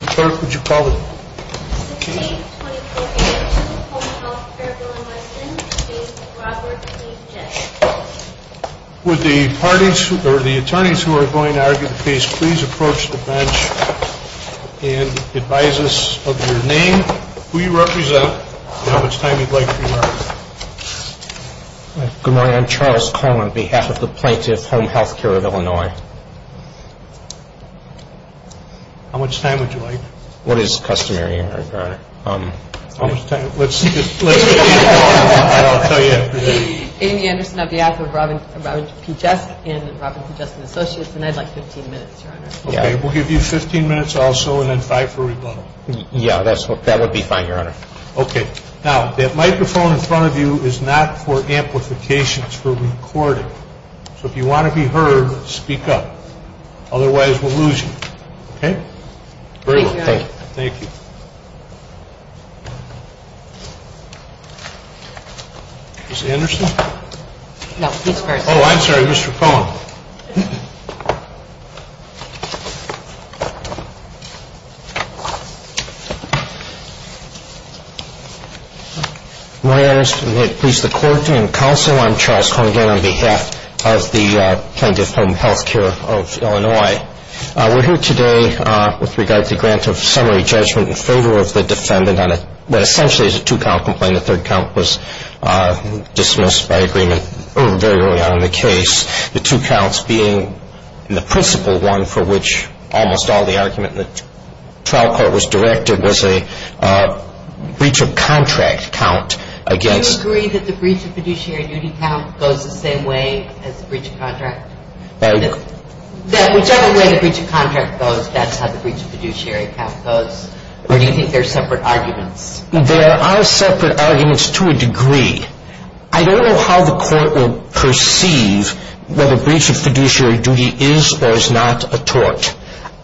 Clerk, would you call the case? The case is 2015, Home Healthcare of Illinois, Inc. v. Robert E. Jesk Would the attorneys who are going to argue the case please approach the bench and advise us of your name, who you represent, and how much time you'd like for your argument. Good morning, I'm Charles Coleman on behalf of the plaintiff, Home Healthcare of Illinois. How much time would you like? What is customary, Your Honor? How much time? Let's just keep going and I'll tell you after that. Amy Anderson on behalf of Robert E. Jesk and Robert E. Jesk and Associates, and I'd like 15 minutes, Your Honor. Okay, we'll give you 15 minutes also and then five for rebuttal. Yeah, that would be fine, Your Honor. Okay, now that microphone in front of you is not for amplification, it's for recording. So if you want to be heard, speak up, otherwise we'll lose you. Okay? Thank you, Your Honor. Thank you. Ms. Anderson? No, he's first. Oh, I'm sorry, Mr. Coleman. Thank you. Good morning, Your Honor. May it please the Court and Counsel, I'm Charles Coleman on behalf of the plaintiff, Home Healthcare of Illinois. We're here today with regard to the grant of summary judgment in favor of the defendant, that essentially is a two-count complaint, the third count was dismissed by agreement very early on in the case. The two counts being the principal one for which almost all the argument in the trial court was directed was a breach of contract count against Do you agree that the breach of fiduciary duty count goes the same way as the breach of contract? That whichever way the breach of contract goes, that's how the breach of fiduciary count goes? Or do you think there are separate arguments? There are separate arguments to a degree. I don't know how the Court will perceive whether breach of fiduciary duty is or is not a tort.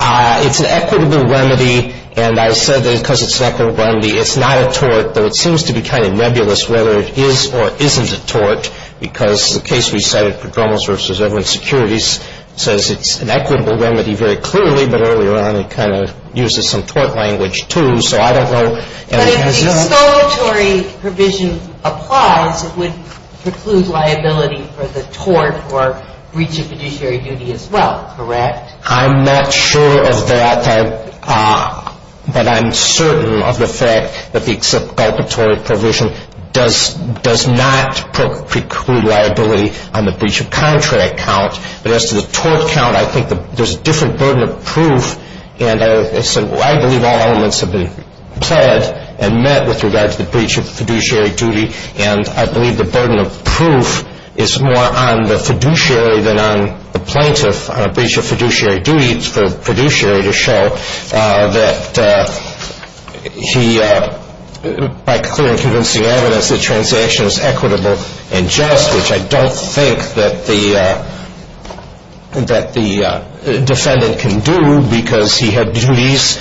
It's an equitable remedy, and I said that because it's an equitable remedy, it's not a tort, though it seems to be kind of nebulous whether it is or isn't a tort, because the case we cited, Pedromos v. Everland Securities, says it's an equitable remedy very clearly, but earlier on it kind of uses some tort language, too, so I don't know. But if the exculpatory provision applies, it would preclude liability for the tort or breach of fiduciary duty as well, correct? I'm not sure of that, but I'm certain of the fact that the exculpatory provision does not preclude liability on the breach of contract count, but as to the tort count, I think there's a different burden of proof, and I believe all elements have been pled and met with regard to the breach of fiduciary duty, and I believe the burden of proof is more on the fiduciary than on the plaintiff. On a breach of fiduciary duty, it's for the fiduciary to show that he, by clear and convincing evidence, the transaction is equitable and just, which I don't think that the defendant can do, because he had duties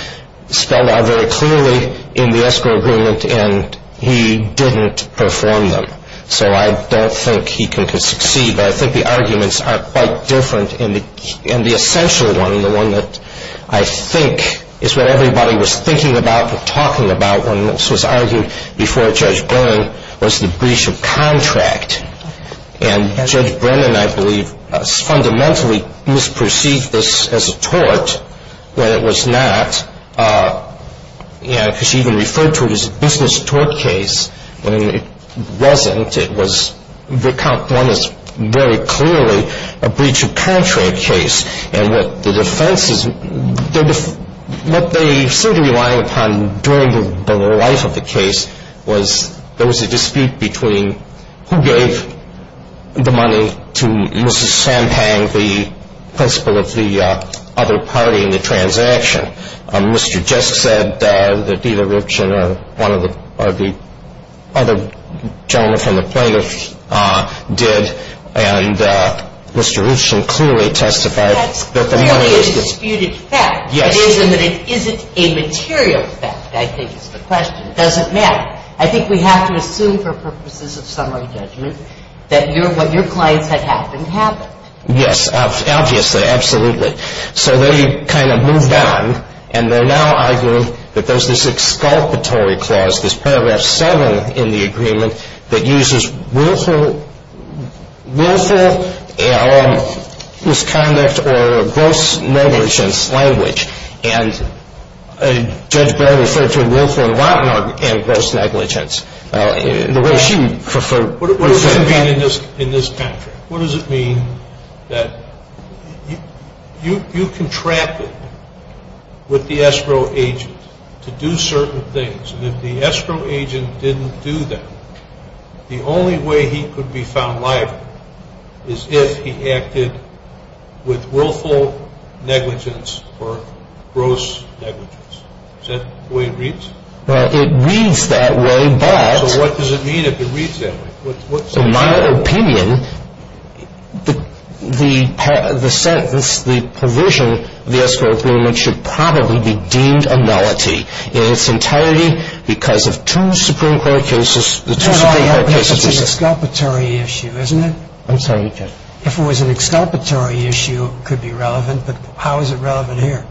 spelled out very clearly in the escrow agreement, and he didn't perform them. So I don't think he could succeed, but I think the arguments are quite different, and the essential one, the one that I think is what everybody was thinking about when this was argued before Judge Byrne was the breach of contract, and Judge Byrne, I believe, fundamentally misperceived this as a tort when it was not, because she even referred to it as a business tort case when it wasn't. It was the count one is very clearly a breach of contract case, and what the defense is, what they seem to be relying upon during the life of the case was there was a dispute between who gave the money to Mrs. Champagne, the principal of the other party in the transaction. Mr. Just said that either Richen or one of the other gentlemen from the plaintiff did, and Mr. Richen clearly testified that the money is the ---- That's clearly a disputed fact. Yes. It is, and that it isn't a material fact, I think is the question. It doesn't matter. I think we have to assume for purposes of summary judgment that what your clients had happened happened. Yes, obviously. Absolutely. So they kind of moved on, and they're now arguing that there's this exculpatory clause, there's Paragraph 7 in the agreement that uses willful misconduct or gross negligence language, and Judge Bell referred to it willful and rotten and gross negligence, the way she preferred. What does it mean in this contract? What does it mean that you contracted with the escrow agent to do certain things, and if the escrow agent didn't do that, the only way he could be found liable is if he acted with willful negligence or gross negligence? Is that the way it reads? Well, it reads that way, but ---- So what does it mean if it reads that way? So my opinion, the provision of the escrow agreement should probably be deemed a nullity. In its entirety, because of two Supreme Court cases, the two Supreme Court cases ---- But that's an exculpatory issue, isn't it? I'm sorry, Your Honor. If it was an exculpatory issue, it could be relevant, but how is it relevant here?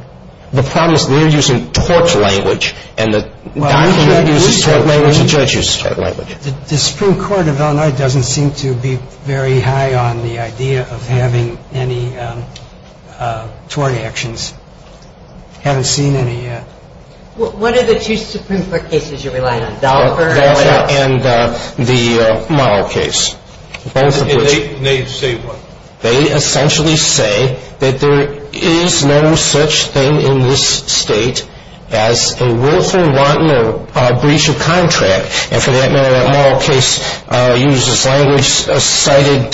The problem is they're using tort language, and the document uses tort language and the judge uses tort language. The Supreme Court of Illinois doesn't seem to be very high on the idea of having any tort actions. I haven't seen any yet. What are the two Supreme Court cases you're relying on, Dahlberg and ---- Dahlberg and the Morrow case, both of which ---- And they say what? They essentially say that there is no such thing in this State as a willful wanton breach of contract, and for that matter, that Morrow case uses language cited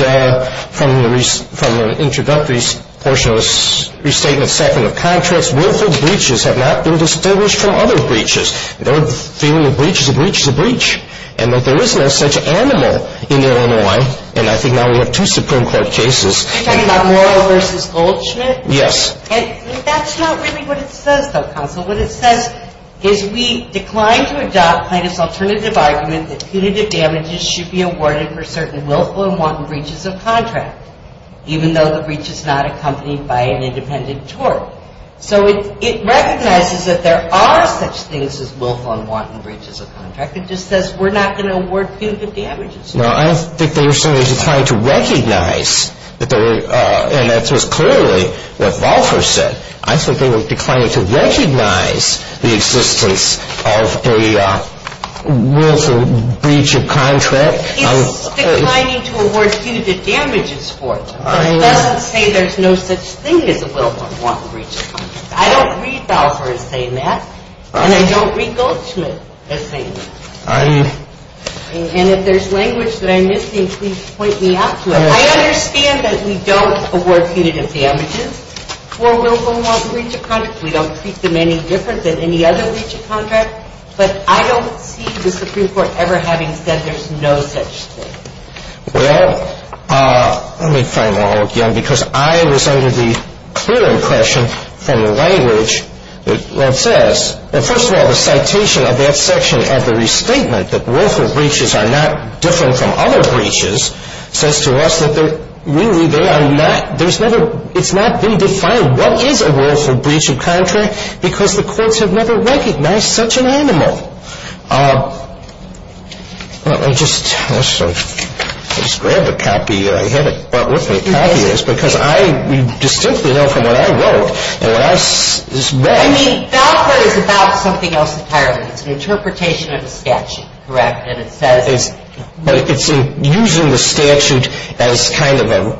from the introductory portion of the restatement, second of contracts. Willful breaches have not been distinguished from other breaches. They're feeling a breach is a breach is a breach, and that there is no such animal in Illinois, and I think now we have two Supreme Court cases. Are you talking about Morrow v. Goldschmidt? Yes. And that's not really what it says, though, counsel. What it says is we decline to adopt Plaintiff's alternative argument that punitive damages should be awarded for certain willful and wanton breaches of contract, even though the breach is not accompanied by an independent tort. So it recognizes that there are such things as willful and wanton breaches of contract. It just says we're not going to award punitive damages. No, I don't think they were simply trying to recognize that there were, and that was clearly what Balfour said. I think they were declining to recognize the existence of a willful breach of contract. It's declining to award punitive damages for it, but it doesn't say there's no such thing as a willful and wanton breach of contract. I don't read Balfour as saying that, and I don't read Goldschmidt as saying that. And if there's language that I'm missing, please point me out to it. I understand that we don't award punitive damages for willful and wanton breach of contract. We don't treat them any different than any other breach of contract, but I don't see the Supreme Court ever having said there's no such thing. Well, let me frame it all again, because I was under the clear impression from the language that says, well, first of all, the citation of that section of the restatement that willful breaches are not different from other breaches says to us that they're really, they are not, there's never, it's not been defined what is a willful breach of contract, because the courts have never recognized such an animal. Let me just grab a copy, I had it brought with me, because I distinctly know from what I wrote and what I read. I mean, Balfour is about something else entirely. It's an interpretation of a statute, correct? But it's using the statute as kind of an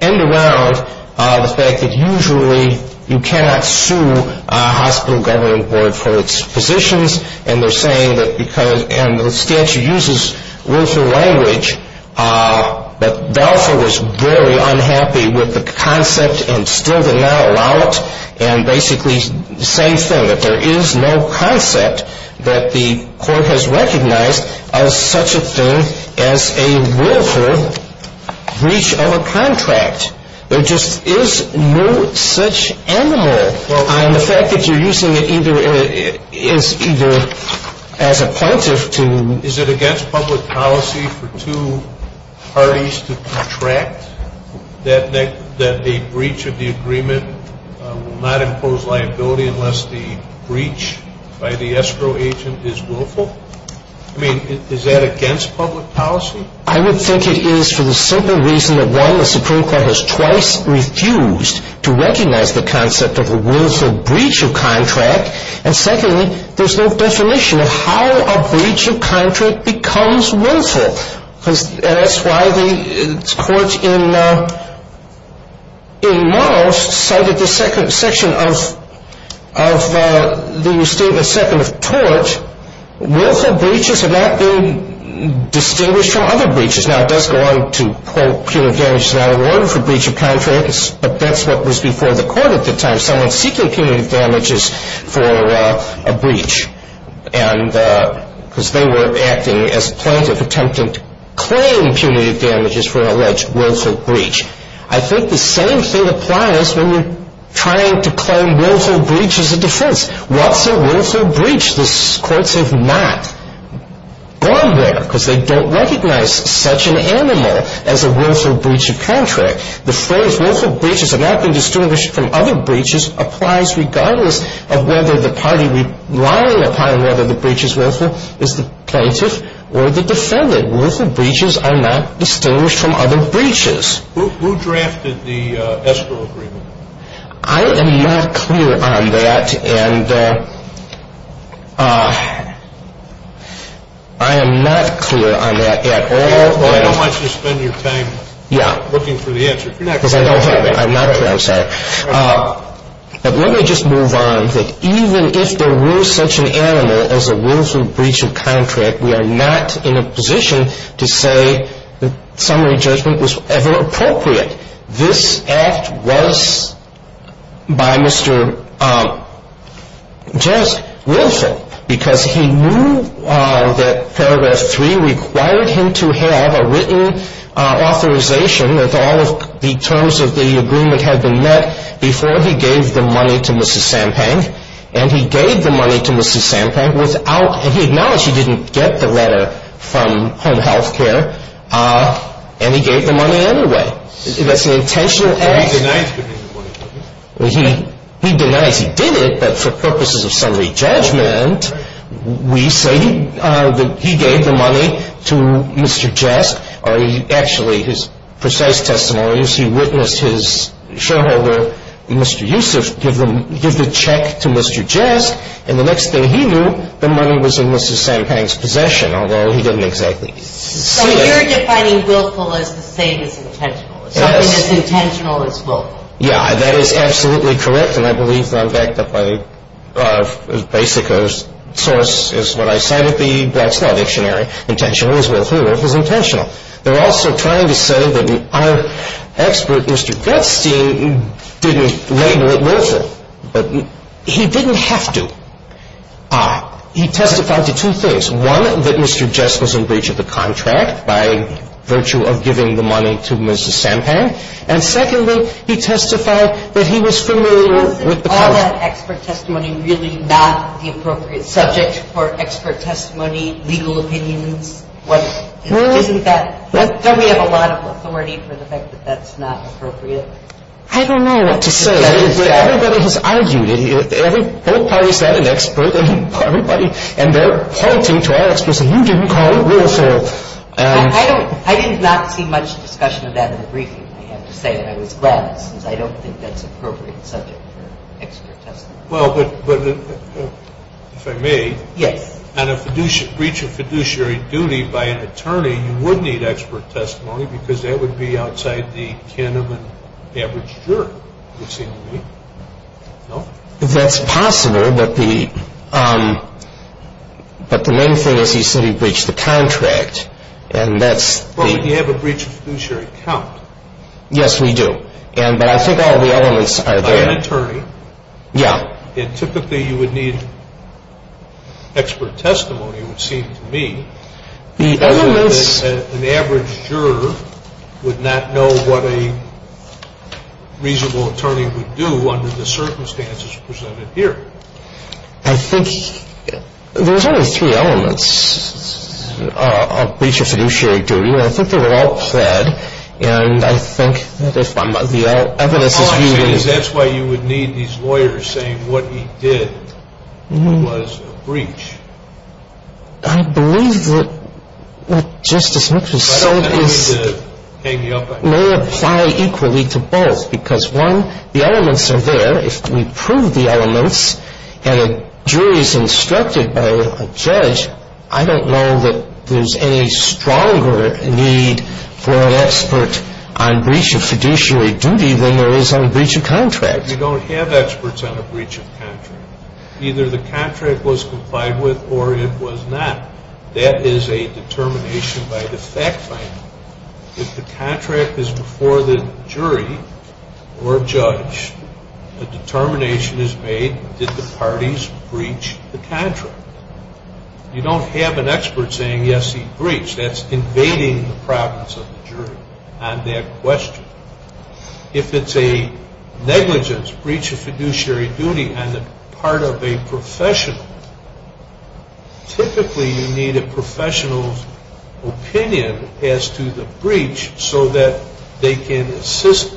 end-around, the fact that usually you cannot sue a hospital governing board for its positions, and they're saying that because, and the statute uses willful language, but Balfour was very unhappy with the concept and still did not allow it, and basically the same thing, that there is no concept that the court has recognized as such a thing as a willful breach of a contract. There just is no such animal. And the fact that you're using it either as a point of to... Is it against public policy for two parties to contract, that a breach of the agreement will not impose liability unless the breach by the escrow agent is willful? I mean, is that against public policy? I would think it is for the simple reason that, one, the Supreme Court has twice refused to recognize the concept of a willful breach of contract, and secondly, there's no definition of how a breach of contract becomes willful. And that's why the court in Murrow cited the second section of the statement, second of tort, willful breaches have not been distinguished from other breaches. Now, it does go on to quote punitive damages not awarded for breach of contracts, but that's what was before the court at the time, someone seeking punitive damages for a breach, because they were acting as plaintiff attempting to claim punitive damages for an alleged willful breach. I think the same thing applies when you're trying to claim willful breach as a defense. What's a willful breach? The courts have not gone there because they don't recognize such an animal as a willful breach of contract. The phrase willful breaches have not been distinguished from other breaches applies regardless of whether the party relying upon whether the breach is willful is the plaintiff or the defendant. Willful breaches are not distinguished from other breaches. Who drafted the escrow agreement? I am not clear on that, and I am not clear on that at all. I don't want you to spend your time looking for the answer. Because I don't have it. I'm not clear. I'm sorry. But let me just move on. Even if there were such an animal as a willful breach of contract, we are not in a position to say that summary judgment was ever appropriate. This act was by Mr. Just willful because he knew that Paragraph 3 required him to have a written authorization that all of the terms of the agreement had been met before he gave the money to Mrs. Sampang. And he gave the money to Mrs. Sampang without, and he acknowledged he didn't get the letter from Home Health Care, and he gave the money anyway. That's an intentional act. He denies giving the money to Mrs. Sampang. He denies. He did it, but for purposes of summary judgment, we say that he gave the money to Mr. Just, or actually his precise testimonies, he witnessed his shareholder, Mr. Yusuf, give the check to Mr. Just, and the next thing he knew, the money was in Mrs. Sampang's possession, although he didn't exactly see it. So you're defining willful as the same as intentional, as something as intentional as willful. Yeah, that is absolutely correct, and I believe that I'm backed up by, as basic a source as what I said at the Black Slaw Dictionary, intentional as willful is intentional. They're also trying to say that our expert, Mr. Gutstein, didn't label it willful, but he didn't have to. He testified to two things. One, that Mr. Just was in breach of the contract by virtue of giving the money to Mrs. Sampang, and secondly, he testified that he was familiar with the policy. And he testified to two things. And he testified to the fact that he was familiar with the policy. So is expert testimony really not the appropriate subject for expert testimony, legal opinions? Isn't that – don't we have a lot of authority for the fact that that's not appropriate? I don't know what to say. Everybody has argued it. Both parties have an expert, and they're pointing to our experts, and you didn't call it willful. I did not see much discussion of that in the briefing. I have to say that I was glad, since I don't think that's an appropriate subject for expert testimony. Well, but if I may, on a breach of fiduciary duty by an attorney, you would need expert testimony, because that would be outside the canon of an average juror, it would seem to me. No? That's possible, but the main thing is he said he breached the contract, and that's the – Well, but you have a breach of fiduciary count. Yes, we do. But I think all the elements are there. By an attorney. Yeah. And typically you would need expert testimony, it would seem to me. The elements – An average juror would not know what a reasonable attorney would do under the circumstances presented here. I think – there's only three elements of breach of fiduciary duty, and I think they're all said, and I think that if I'm – the evidence is – That's why you would need these lawyers saying what he did was a breach. I believe that what Justice Mitchell said is – I don't mean to hang you up. May apply equally to both, because one, the elements are there. If we prove the elements and a jury is instructed by a judge, I don't know that there's any stronger need for an expert on breach of fiduciary duty than there is on a breach of contract. But you don't have experts on a breach of contract. Either the contract was complied with or it was not. That is a determination by the fact finder. If the contract is before the jury or judge, the determination is made, did the parties breach the contract? You don't have an expert saying, yes, he breached. That's invading the province of the jury on that question. If it's a negligence, breach of fiduciary duty on the part of a professional, typically you need a professional's opinion as to the breach so that they can assist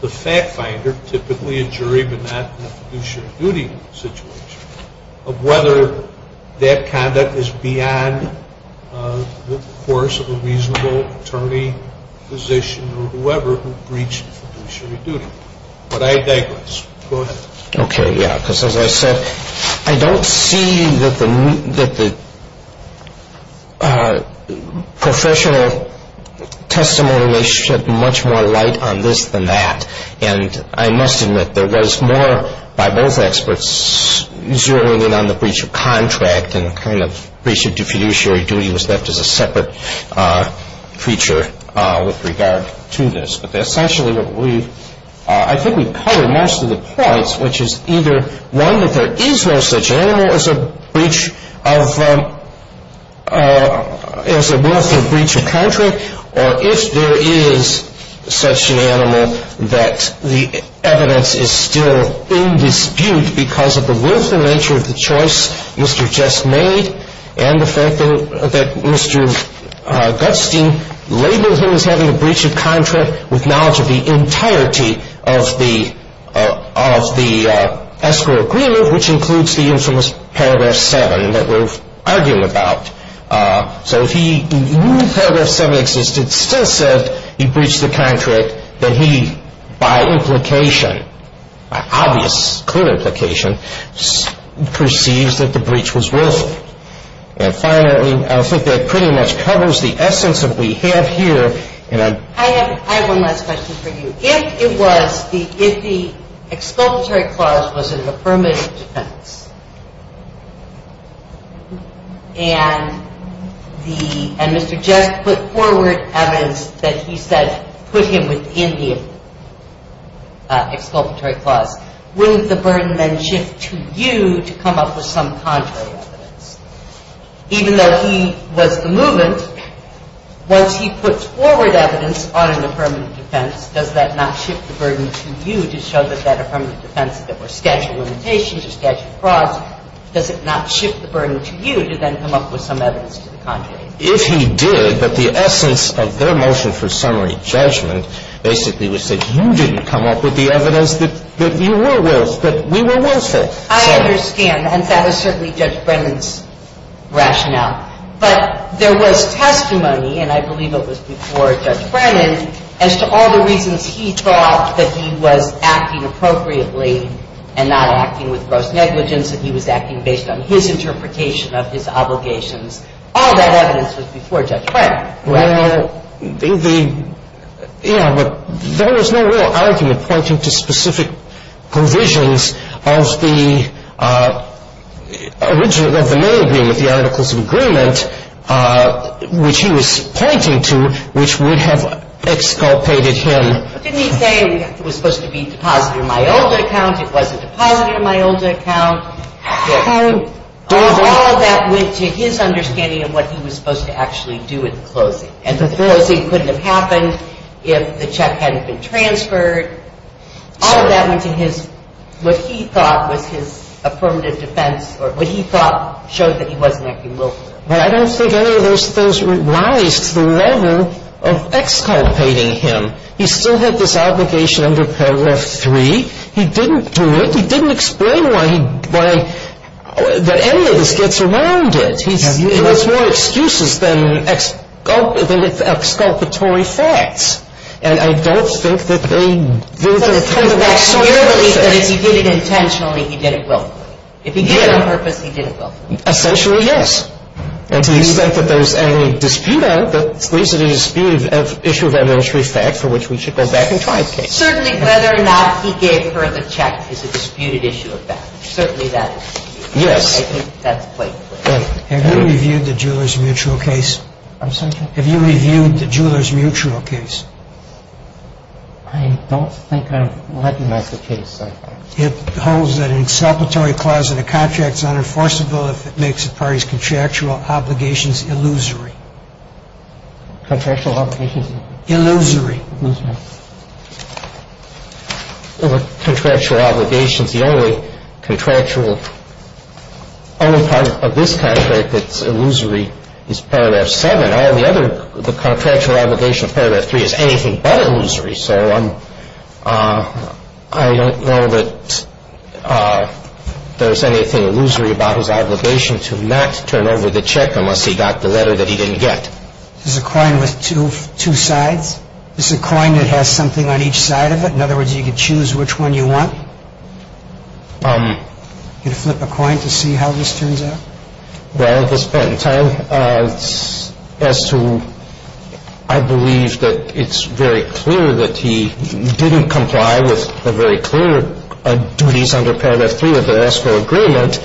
the fact finder, typically a jury but not in a fiduciary duty situation, of whether that conduct is beyond the course of a reasonable attorney, physician, or whoever who breached fiduciary duty. But I digress. Go ahead. Okay, yeah, because as I said, I don't see that the professional testimony may shed much more light on this than that. And I must admit, there was more by both experts zeroing in on the breach of contract and the kind of breach of fiduciary duty was left as a separate feature with regard to this. But essentially what we've, I think we've covered most of the points, which is either one, that there is no such animal as a breach of, as a willful breach of contract, or if there is such an animal that the evidence is still in dispute because of the willful nature of the choice Mr. Just made and the fact that Mr. Gutstein labeled him as having a breach of contract with knowledge of the entirety of the escrow agreement, which includes the infamous Paragraph 7 that we're arguing about. So if he knew Paragraph 7 existed, still said he breached the contract, then he, by implication, by obvious, clear implication, perceives that the breach was willful. And finally, I think that pretty much covers the essence that we have here. I have one last question for you. If it was, if the exculpatory clause was an affirmative defense and the, and Mr. Just put forward evidence that he said put him within the exculpatory clause, wouldn't the burden then shift to you to come up with some contrary evidence? Even though he was the movement, once he puts forward evidence on an affirmative defense, does that not shift the burden to you to show that that affirmative defense, that were statute of limitations or statute of frauds, does it not shift the burden to you to then come up with some evidence to the contrary? If he did, but the essence of their motion for summary judgment basically was that you didn't come up with the evidence that you were willful, that we were willful. I understand. And that is certainly Judge Brennan's rationale. But there was testimony, and I believe it was before Judge Brennan, as to all the reasons he thought that he was acting appropriately and not acting with gross negligence and he was acting based on his interpretation of his obligations. All that evidence was before Judge Brennan. Well, the, you know, there was no real argument pointing to specific provisions of the original, of the mail agreement, the articles of agreement, which he was pointing to, which would have exculpated him. But didn't he say it was supposed to be deposited in my old account? It wasn't deposited in my old account. All of that went to his understanding of what he was supposed to actually do at the closing. And the closing couldn't have happened if the check hadn't been transferred. All of that went to his, what he thought was his affirmative defense, or what he thought showed that he wasn't acting willfully. But I don't think any of those things rise to the level of exculpating him. He still had this obligation under Paragraph 3. He didn't do it. He didn't explain why he, why, that any of this gets around it. He has more excuses than exculpatory facts. And I don't think that they do to the contrary. But if he did it intentionally, he did it willfully. If he did it on purpose, he did it willfully. Essentially, yes. And to the extent that there's any dispute on it, that leaves it a disputed issue of evidentiary fact for which we should go back and try a case. Certainly whether or not he gave her the check is a disputed issue of fact. Certainly that is. Yes. I think that's quite clear. Have you reviewed the Jewelers Mutual case? I'm sorry? Have you reviewed the Jewelers Mutual case? I don't think I've read the case. It holds that an exculpatory clause in a contract is unenforceable if it makes a party's contractual obligations illusory. Contractual obligations? Illusory. Illusory. Well, the contractual obligations, the only contractual, only part of this contract that's illusory is Paragraph 7. All the other, the contractual obligation of Paragraph 3 is anything but illusory. So I don't know that there's anything illusory about his obligation to not turn over the check unless he got the letter that he didn't get. Is it a coin with two sides? Is it a coin that has something on each side of it? In other words, you could choose which one you want? You could flip a coin to see how this turns out? Well, at this point in time, as to I believe that it's very clear that he didn't comply with the very clear duties under Paragraph 3 of the escrow agreement.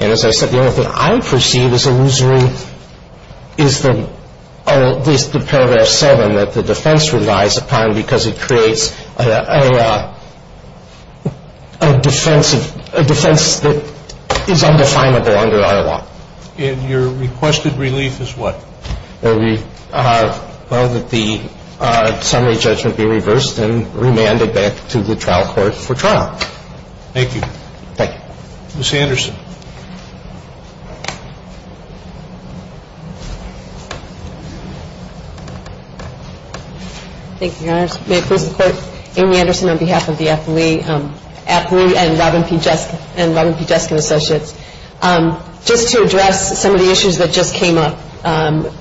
And as I said, the only thing I perceive as illusory is the Paragraph 7 that the defense relies upon because it creates a defense that is undefinable under our law. And your requested relief is what? Well, that the summary judgment be reversed and remanded back to the trial court for trial. Thank you. Thank you. Ms. Anderson. Thank you, Your Honors. May it please the Court, Amy Anderson on behalf of the athlete and Robin P. Jeskin Associates. Just to address some of the issues that just came up.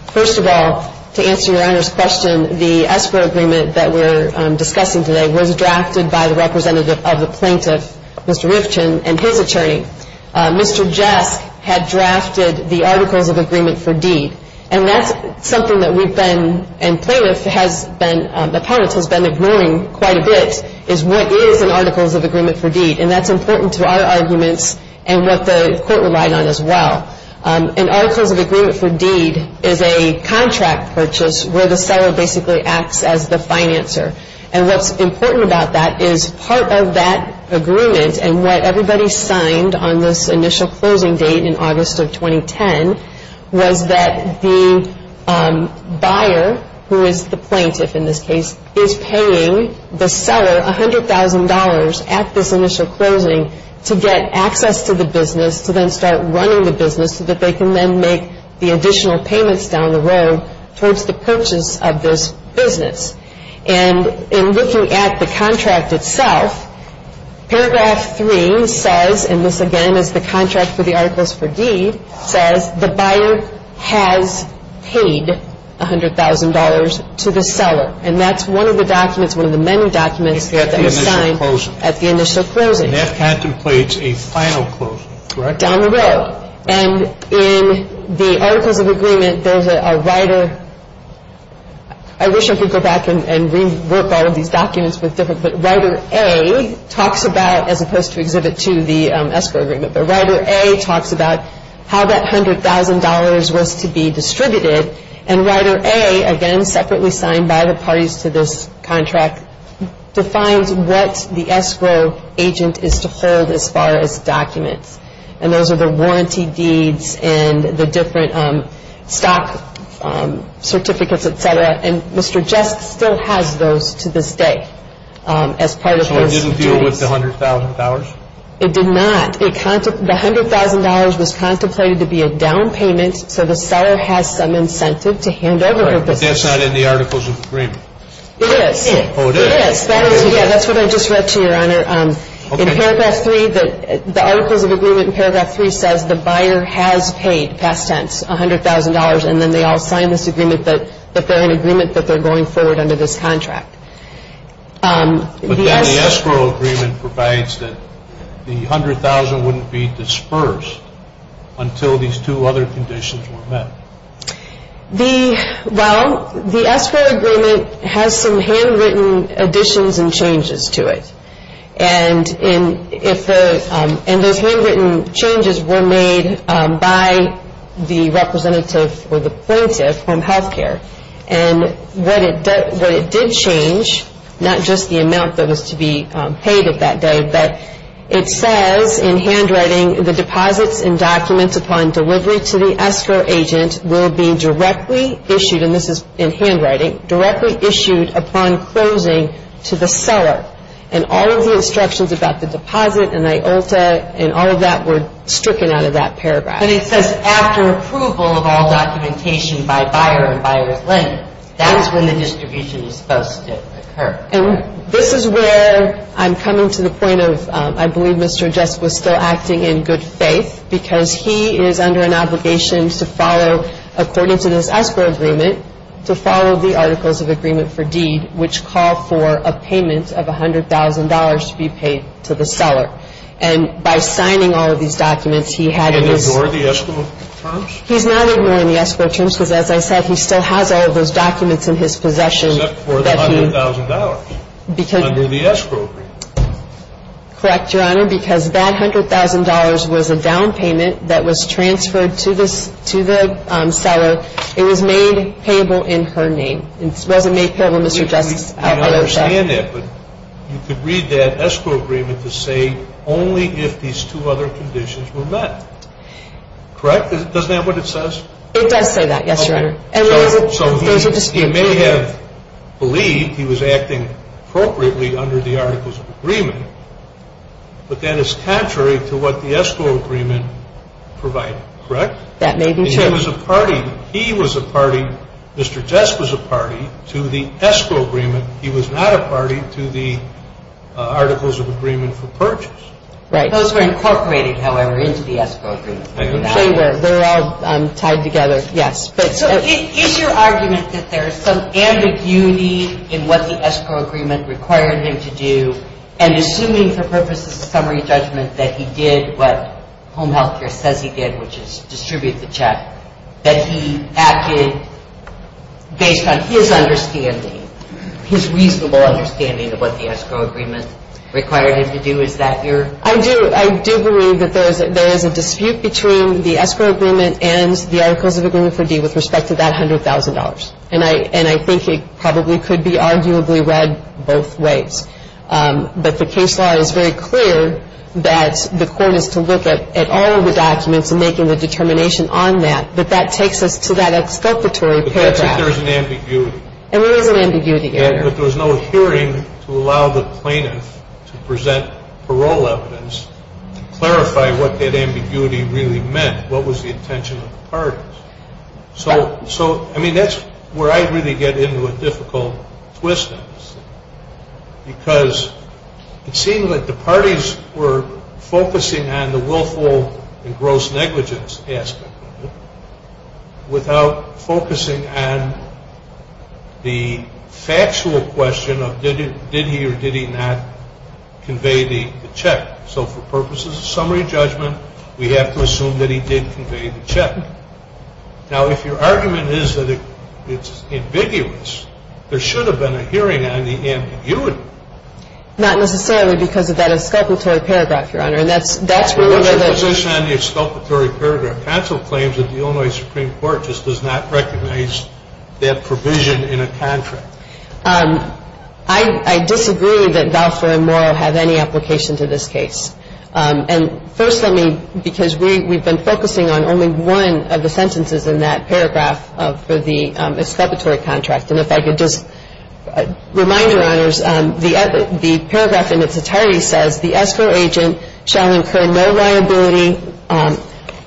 First of all, to answer Your Honor's question, the escrow agreement that we're discussing today was drafted by the representative of the plaintiff, Mr. Rivkin, and his attorney. Mr. Jesk had drafted the Articles of Agreement for Deed. And that's something that we've been, and plaintiff has been, the plaintiff has been ignoring quite a bit, is what is an Articles of Agreement for Deed. And that's important to our arguments and what the court relied on as well. An Articles of Agreement for Deed is a contract purchase where the seller basically acts as the financer. And what's important about that is part of that agreement and what everybody signed on this initial closing date in August of 2010 was that the buyer, who is the plaintiff in this case, is paying the seller $100,000 at this initial closing to get access to the business, to then start running the business so that they can then make the additional payments down the road towards the purchase of this business. And in looking at the contract itself, Paragraph 3 says, and this again is the contract for the Articles for Deed, says the buyer has paid $100,000 to the seller. And that's one of the documents, one of the many documents that was signed at the initial closing. And that contemplates a final closing, correct? Down the road. And in the Articles of Agreement, there's a writer. I wish I could go back and rework all of these documents. But Writer A talks about, as opposed to Exhibit 2, the escrow agreement, but Writer A talks about how that $100,000 was to be distributed. And Writer A, again, separately signed by the parties to this contract, defines what the escrow agent is to hold as far as documents. And those are the warranty deeds and the different stock certificates, et cetera. And Mr. Jess still has those to this day as part of those agreements. So it didn't deal with the $100,000? It did not. The $100,000 was contemplated to be a down payment so the seller has some incentive to hand over the business. But that's not in the Articles of Agreement. It is. Oh, it is? It is. Yeah, that's what I just read to you, Your Honor. In Paragraph 3, the Articles of Agreement in Paragraph 3 says the buyer has paid, past tense, $100,000, and then they all sign this agreement that they're in agreement that they're going forward under this contract. But then the escrow agreement provides that the $100,000 wouldn't be dispersed until these two other conditions were met. Well, the escrow agreement has some handwritten additions and changes to it. And those handwritten changes were made by the representative or the plaintiff from health care. And what it did change, not just the amount that was to be paid of that day, but it says in handwriting, the deposits and documents upon delivery to the escrow agent will be directly issued, and this is in handwriting, directly issued upon closing to the seller. And all of the instructions about the deposit and IULTA and all of that were stricken out of that paragraph. But it says after approval of all documentation by buyer and buyer's lender. That is when the distribution is supposed to occur. And this is where I'm coming to the point of I believe Mr. Jessup was still acting in good faith because he is under an obligation to follow, according to this escrow agreement, to follow the Articles of Agreement for Deed, which call for a payment of $100,000 to be paid to the seller. And by signing all of these documents, he had to do this. Did he ignore the escrow terms? He's not ignoring the escrow terms because, as I said, he still has all of those documents in his possession. Except for the $100,000 under the escrow agreement. Correct, Your Honor, because that $100,000 was a down payment that was transferred to the seller. It was made payable in her name. It wasn't made payable, Mr. Jessup's IULTA. I understand that, but you could read that escrow agreement to say only if these two other conditions were met. Correct? Doesn't that what it says? It does say that, yes, Your Honor. So he may have believed he was acting appropriately under the Articles of Agreement, but that is contrary to what the escrow agreement provided. Correct? That may be true. He was a party, Mr. Jessup was a party to the escrow agreement. He was not a party to the Articles of Agreement for Purchase. Right. Those were incorporated, however, into the escrow agreement. They're all tied together, yes. So is your argument that there is some ambiguity in what the escrow agreement required him to do, and assuming for purposes of summary judgment that he did what home health care says he did, which is distribute the check, that he acted based on his understanding, his reasonable understanding of what the escrow agreement required him to do, is that your? I do believe that there is a dispute between the escrow agreement and the Articles of Agreement for D with respect to that $100,000. And I think it probably could be arguably read both ways. But the case law is very clear that the court is to look at all of the documents and making the determination on that, but that takes us to that exculpatory paragraph. But that's if there is an ambiguity. There is an ambiguity, Your Honor. But there was no hearing to allow the plaintiff to present parole evidence to clarify what that ambiguity really meant, what was the intention of the parties. So, I mean, that's where I really get into a difficult twist. Because it seemed like the parties were focusing on the willful and gross negligence aspect of it without focusing on the factual question of did he or did he not convey the check. So, for purposes of summary judgment, we have to assume that he did convey the check. Now, if your argument is that it's ambiguous, there should have been a hearing on the ambiguity. Not necessarily because of that exculpatory paragraph, Your Honor. What's your position on the exculpatory paragraph? Counsel claims that the Illinois Supreme Court just does not recognize that provision in a contract. I disagree that Valsler and Morrow have any application to this case. And first, let me, because we've been focusing on only one of the sentences in that paragraph for the exculpatory contract. And if I could just remind Your Honors, the paragraph in its entirety says, the escrow agent shall incur no liability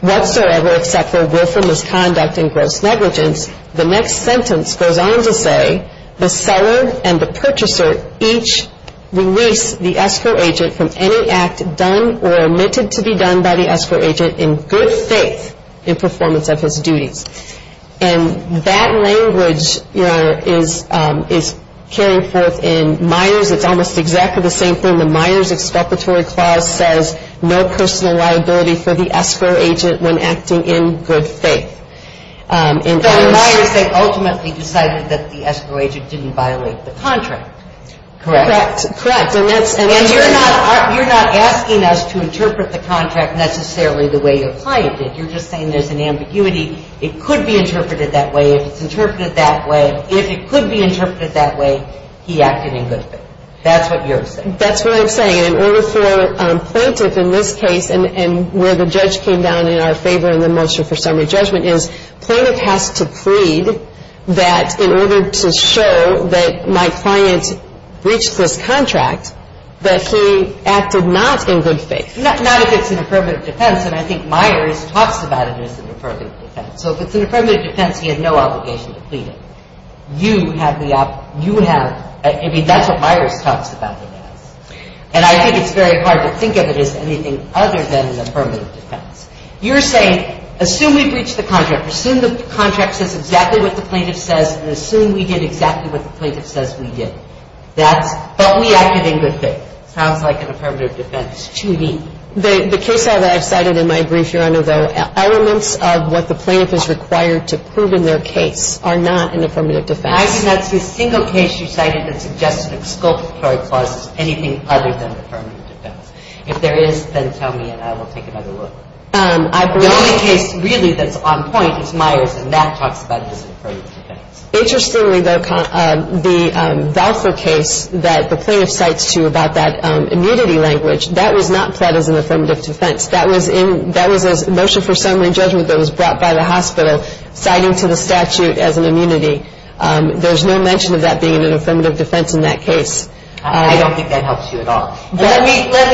whatsoever except for willful misconduct and gross negligence. The next sentence goes on to say, the seller and the purchaser each release the escrow agent from any act done or omitted to be done by the escrow agent in good faith in performance of his duties. And that language, Your Honor, is carried forth in Myers. It's almost exactly the same thing. The Myers exculpatory clause says, no personal liability for the escrow agent when acting in good faith. But in Myers, they ultimately decided that the escrow agent didn't violate the contract. Correct. Correct. And you're not asking us to interpret the contract necessarily the way your client did. You're just saying there's an ambiguity. It could be interpreted that way. If it's interpreted that way. If it could be interpreted that way, he acted in good faith. That's what you're saying. That's what I'm saying. In order for Plaintiff in this case, and where the judge came down in our favor in the moisture for summary judgment, is Plaintiff has to plead that in order to show that my client breached this contract, that he acted not in good faith. Not if it's an affirmative defense. And I think Myers talks about it as an affirmative defense. So if it's an affirmative defense, he had no obligation to plead it. You have the option. You have. I mean, that's what Myers talks about it as. And I think it's very hard to think of it as anything other than an affirmative defense. You're saying, assume we breached the contract. Assume the contract says exactly what the plaintiff says, and assume we did exactly what the plaintiff says we did. That's, but we acted in good faith. Sounds like an affirmative defense to me. The case file that I've cited in my brief, Your Honor, though elements of what the plaintiff is required to prove in their case are not an affirmative defense. I did not see a single case you cited that suggests an exculpatory clause as anything other than affirmative defense. If there is, then tell me, and I will take another look. The only case really that's on point is Myers, and that talks about it as an affirmative defense. Interestingly, though, the VALFA case that the plaintiff cites to you about that immunity language, that was not pled as an affirmative defense. That was a motion for summary judgment that was brought by the hospital citing to the statute as an immunity. There's no mention of that being an affirmative defense in that case. I don't think that helps you at all. Let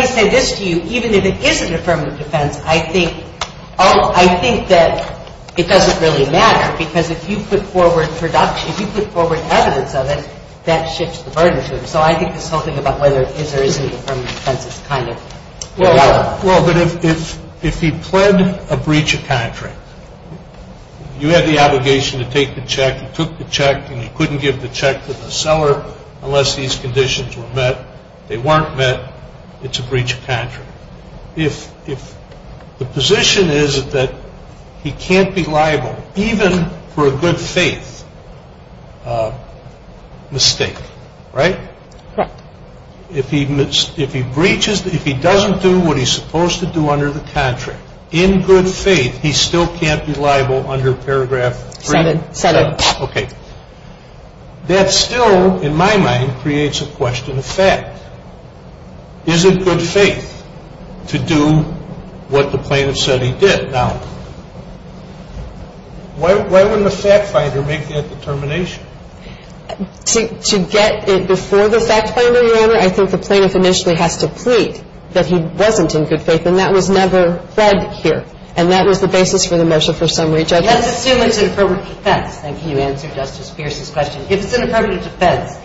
me say this to you. Even if it is an affirmative defense, I think that it doesn't really matter, because if you put forward production, if you put forward evidence of it, that shifts the burden to them. So I think this whole thing about whether it is or isn't an affirmative defense is kind of irrelevant. Well, but if he pled a breach of contract, you had the obligation to take the check, you took the check, and you couldn't give the check to the seller unless these conditions were met. They weren't met. It's a breach of contract. If the position is that he can't be liable even for a good faith mistake, right? Correct. If he breaches, if he doesn't do what he's supposed to do under the contract in good faith, he still can't be liable under paragraph 3? 7. 7. Okay. That still, in my mind, creates a question of fact. Is it good faith to do what the plaintiff said he did? Now, why wouldn't the fact finder make that determination? To get it before the fact finder, Your Honor, I think the plaintiff initially has to plead that he wasn't in good faith, and that was never read here, and that was the basis for the measure for summary judgment. Let's assume it's an affirmative defense. Then can you answer Justice Pierce's question? If it's an affirmative defense,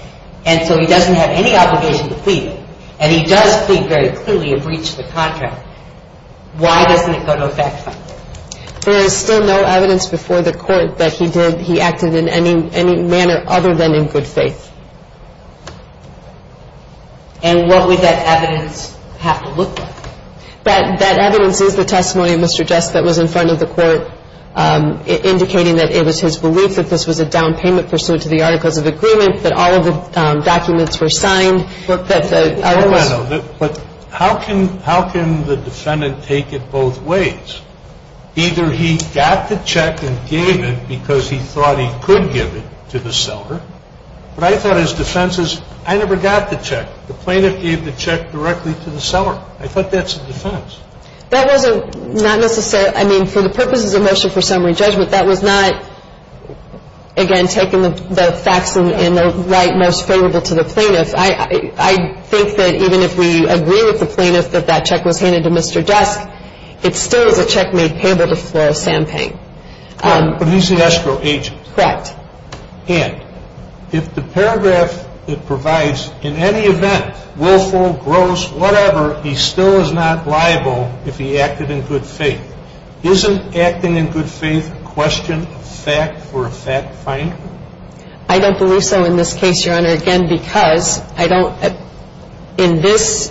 and so he doesn't have any obligation to plead, and he does plead very clearly a breach of the contract, why doesn't it go to a fact finder? There is still no evidence before the court that he did, he acted in any manner other than in good faith. And what would that evidence have to look like? That evidence is the testimony of Mr. Jessup that was in front of the court, indicating that it was his belief that this was a down payment pursuant to the articles of agreement, that all of the documents were signed. But how can the defendant take it both ways? Either he got the check and gave it because he thought he could give it to the seller, but I thought his defense is, I never got the check. The plaintiff gave the check directly to the seller. I thought that's a defense. That was not necessarily, I mean, for the purposes of motion for summary judgment, that was not, again, taking the facts in the right most favorable to the plaintiff. I think that even if we agree with the plaintiff that that check was handed to Mr. Dusk, it still is a check made payable to Flora Sampang. But he's the escrow agent. Correct. And if the paragraph that provides, in any event, willful, gross, whatever, he still is not liable if he acted in good faith. Isn't acting in good faith a question of fact for a fact finder? I don't believe so in this case, Your Honor, again, because I don't. In this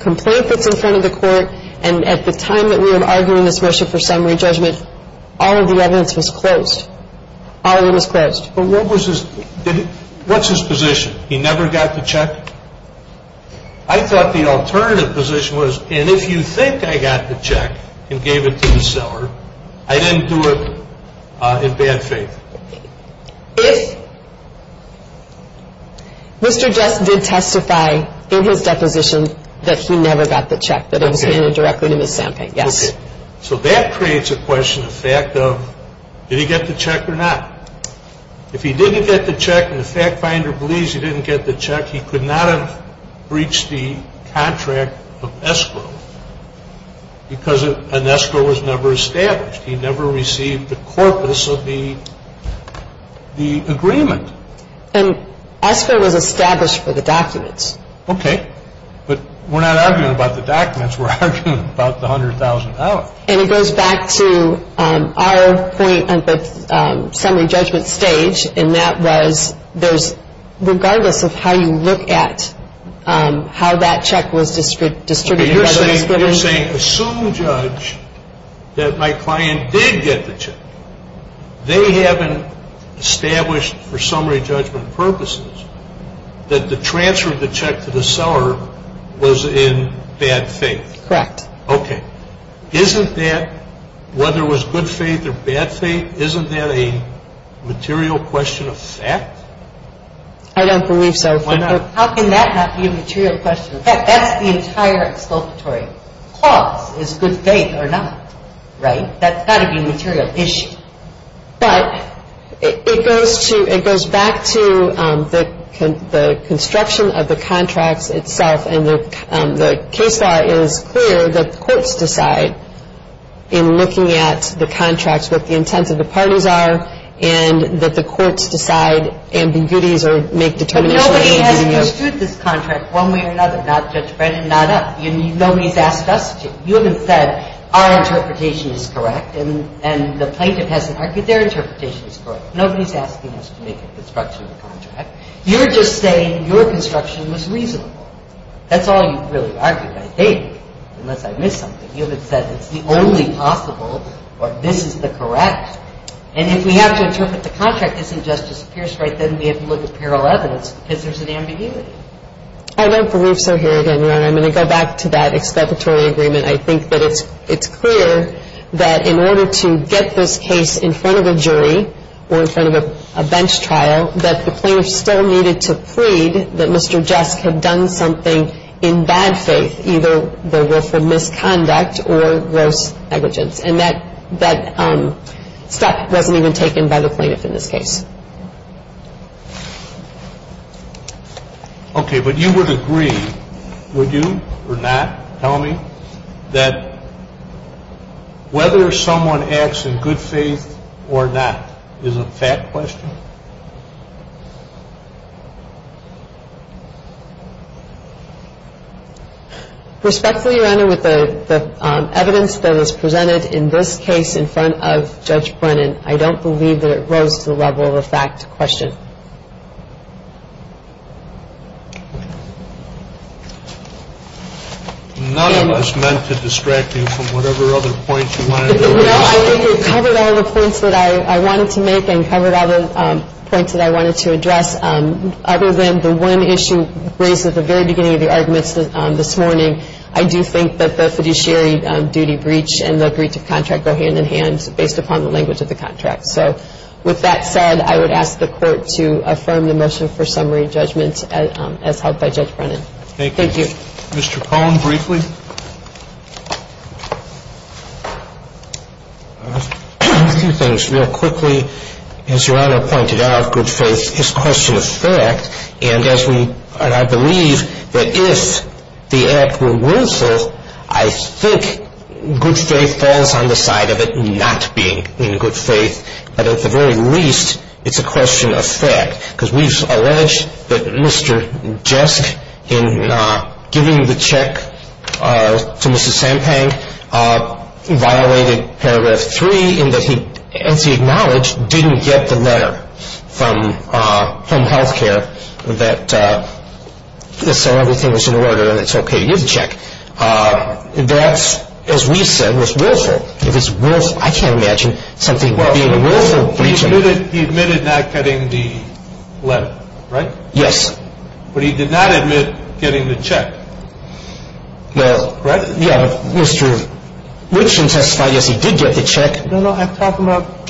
complaint that's in front of the court, and at the time that we were arguing this motion for summary judgment, all of the evidence was closed. All of it was closed. But what's his position? He never got the check? I thought the alternative position was, and if you think I got the check and gave it to the seller, I didn't do it in bad faith. If Mr. Dusk did testify in his deposition that he never got the check that was handed directly to Ms. Sampang, yes. So that creates a question of fact of did he get the check or not? If he didn't get the check and the fact finder believes he didn't get the check, he could not have breached the contract of escrow because an escrow was never established. He never received the corpus of the agreement. And escrow was established for the documents. Okay. But we're not arguing about the documents. We're arguing about the $100,000. And it goes back to our point on the summary judgment stage, and that was regardless of how you look at how that check was distributed. You're saying assume, Judge, that my client did get the check. They haven't established for summary judgment purposes that the transfer of the check to the seller was in bad faith. Correct. Okay. Isn't that, whether it was good faith or bad faith, isn't that a material question of fact? I don't believe so. Why not? How can that not be a material question of fact? That's the entire exculpatory. Cause is good faith or not, right? That's got to be a material issue. But it goes back to the construction of the contracts itself, and the case law is clear that the courts decide in looking at the contracts what the intents of the parties are, and that the courts decide ambiguities or make determinations. But nobody has construed this contract one way or another, not Judge Brennan, not us. Nobody's asked us to. You haven't said our interpretation is correct, and the plaintiff hasn't argued their interpretation is correct. Nobody's asking us to make a construction of the contract. You're just saying your construction was reasonable. That's all you've really argued, I think, unless I missed something. You haven't said it's the only possible or this is the correct. And if we have to interpret the contract, isn't Justice Pierce right, then we have to look at parallel evidence because there's an ambiguity. I don't believe so here, Daniela. I'm going to go back to that expectatory agreement. I think that it's clear that in order to get this case in front of a jury or in front of a bench trial, that the plaintiff still needed to plead that Mr. Jesk had done something in bad faith, either the willful misconduct or gross negligence. And that step wasn't even taken by the plaintiff in this case. Okay, but you would agree, would you or not, tell me, that whether someone acts in good faith or not is a fact question? Respectfully, Your Honor, with the evidence that was presented in this case in front of Judge Brennan, I don't believe that it rose to the level of a fact question. None of us meant to distract you from whatever other points you wanted to raise. No, I think you covered all the points that I wanted to make and covered all the points that I wanted to address. Other than the one issue raised at the very beginning of the arguments this morning, I do think that the fiduciary duty breach and the breach of contract go hand in hand And I think that the fact that the plaintiff did not do anything wrong is based upon the language of the contract. So with that said, I would ask the Court to affirm the motion for summary judgment as held by Judge Brennan. Thank you. Thank you. Mr. Cohn, briefly. A few things. But at the very least, it's a question of fact. Because we've alleged that Mr. Jesk, in giving the check to Mrs. Sampang, violated Paragraph 3 in that he, as he acknowledged, didn't get the letter from home health care that said everything was in order and it's okay to give the check. That's, as we said, was willful. It was willful. I can't imagine something being a willful breach. Well, he admitted not getting the letter, right? Yes. But he did not admit getting the check. Well, yeah, Mr. Richman testified, yes, he did get the check. No, no, I'm talking about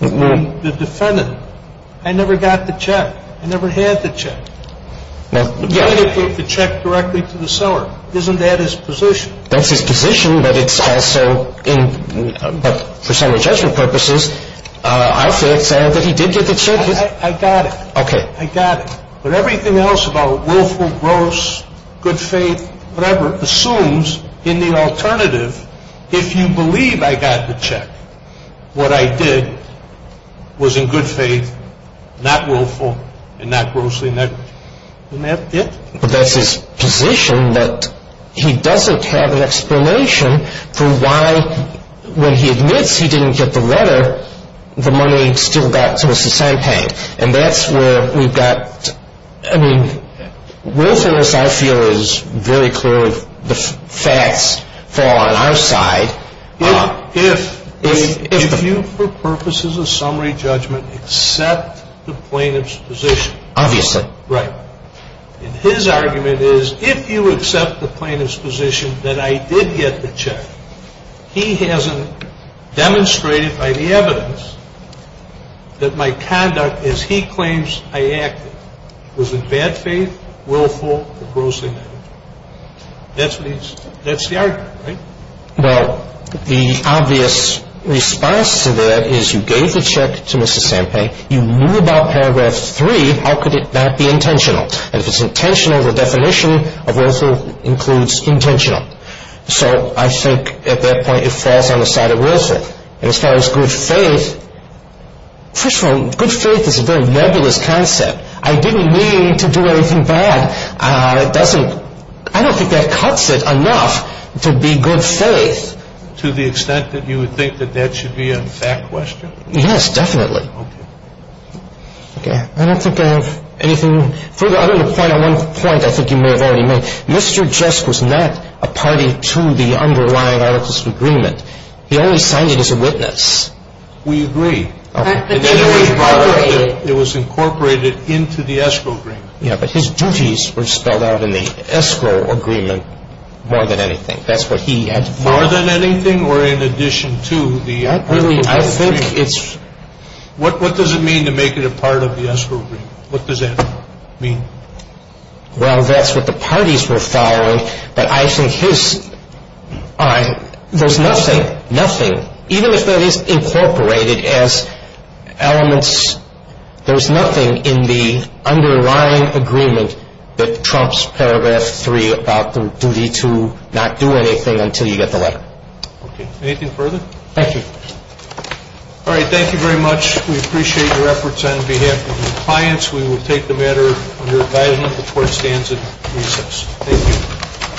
the defendant. I never got the check. I never had the check. Well, yeah. The plaintiff took the check directly to the seller. Isn't that his position? That's his position, but it's also in, but for summary judgment purposes, I feel excited that he did get the check. I got it. Okay. I got it. But everything else about willful, gross, good faith, whatever, assumes in the alternative, if you believe I got the check, what I did was in good faith, not willful, and not grossly negligent. Isn't that it? But that's his position that he doesn't have an explanation for why, when he admits he didn't get the letter, the money still got to Mr. Sampag. And that's where we've got, I mean, willfulness, I feel, is very clear if the facts fall on our side. If you, for purposes of summary judgment, accept the plaintiff's position. Obviously. Right. And his argument is, if you accept the plaintiff's position that I did get the check, he hasn't demonstrated by the evidence that my conduct, as he claims I acted, was in bad faith, willful, or grossly negligent. That's what he's, that's the argument, right? Well, the obvious response to that is you gave the check to Mr. Sampag, you knew about paragraph three, how could it not be intentional? And if it's intentional, the definition of willful includes intentional. So I think at that point it falls on the side of willful. And as far as good faith, first of all, good faith is a very nebulous concept. I didn't mean to do anything bad. It doesn't, I don't think that cuts it enough to be good faith. To the extent that you would think that that should be a fact question? Yes, definitely. Okay. Okay. I don't think I have anything further. I don't have a point. On one point I think you may have already made. Mr. Jusk was not a party to the underlying articles of agreement. He only signed it as a witness. We agree. Okay. It was incorporated into the escrow agreement. Yeah, but his duties were spelled out in the escrow agreement more than anything. That's what he had to do. More than anything or in addition to the articles of agreement? What does it mean to make it a part of the escrow agreement? What does that mean? Well, that's what the parties were following. But I think his, there's nothing, nothing, even if that is incorporated as elements, there's nothing in the underlying agreement that trumps Paragraph 3 about the duty to not do anything until you get the letter. Okay. Anything further? Thank you. All right. Thank you very much. We appreciate your efforts on behalf of your clients. We will take the matter under advisement before it stands at recess. Thank you.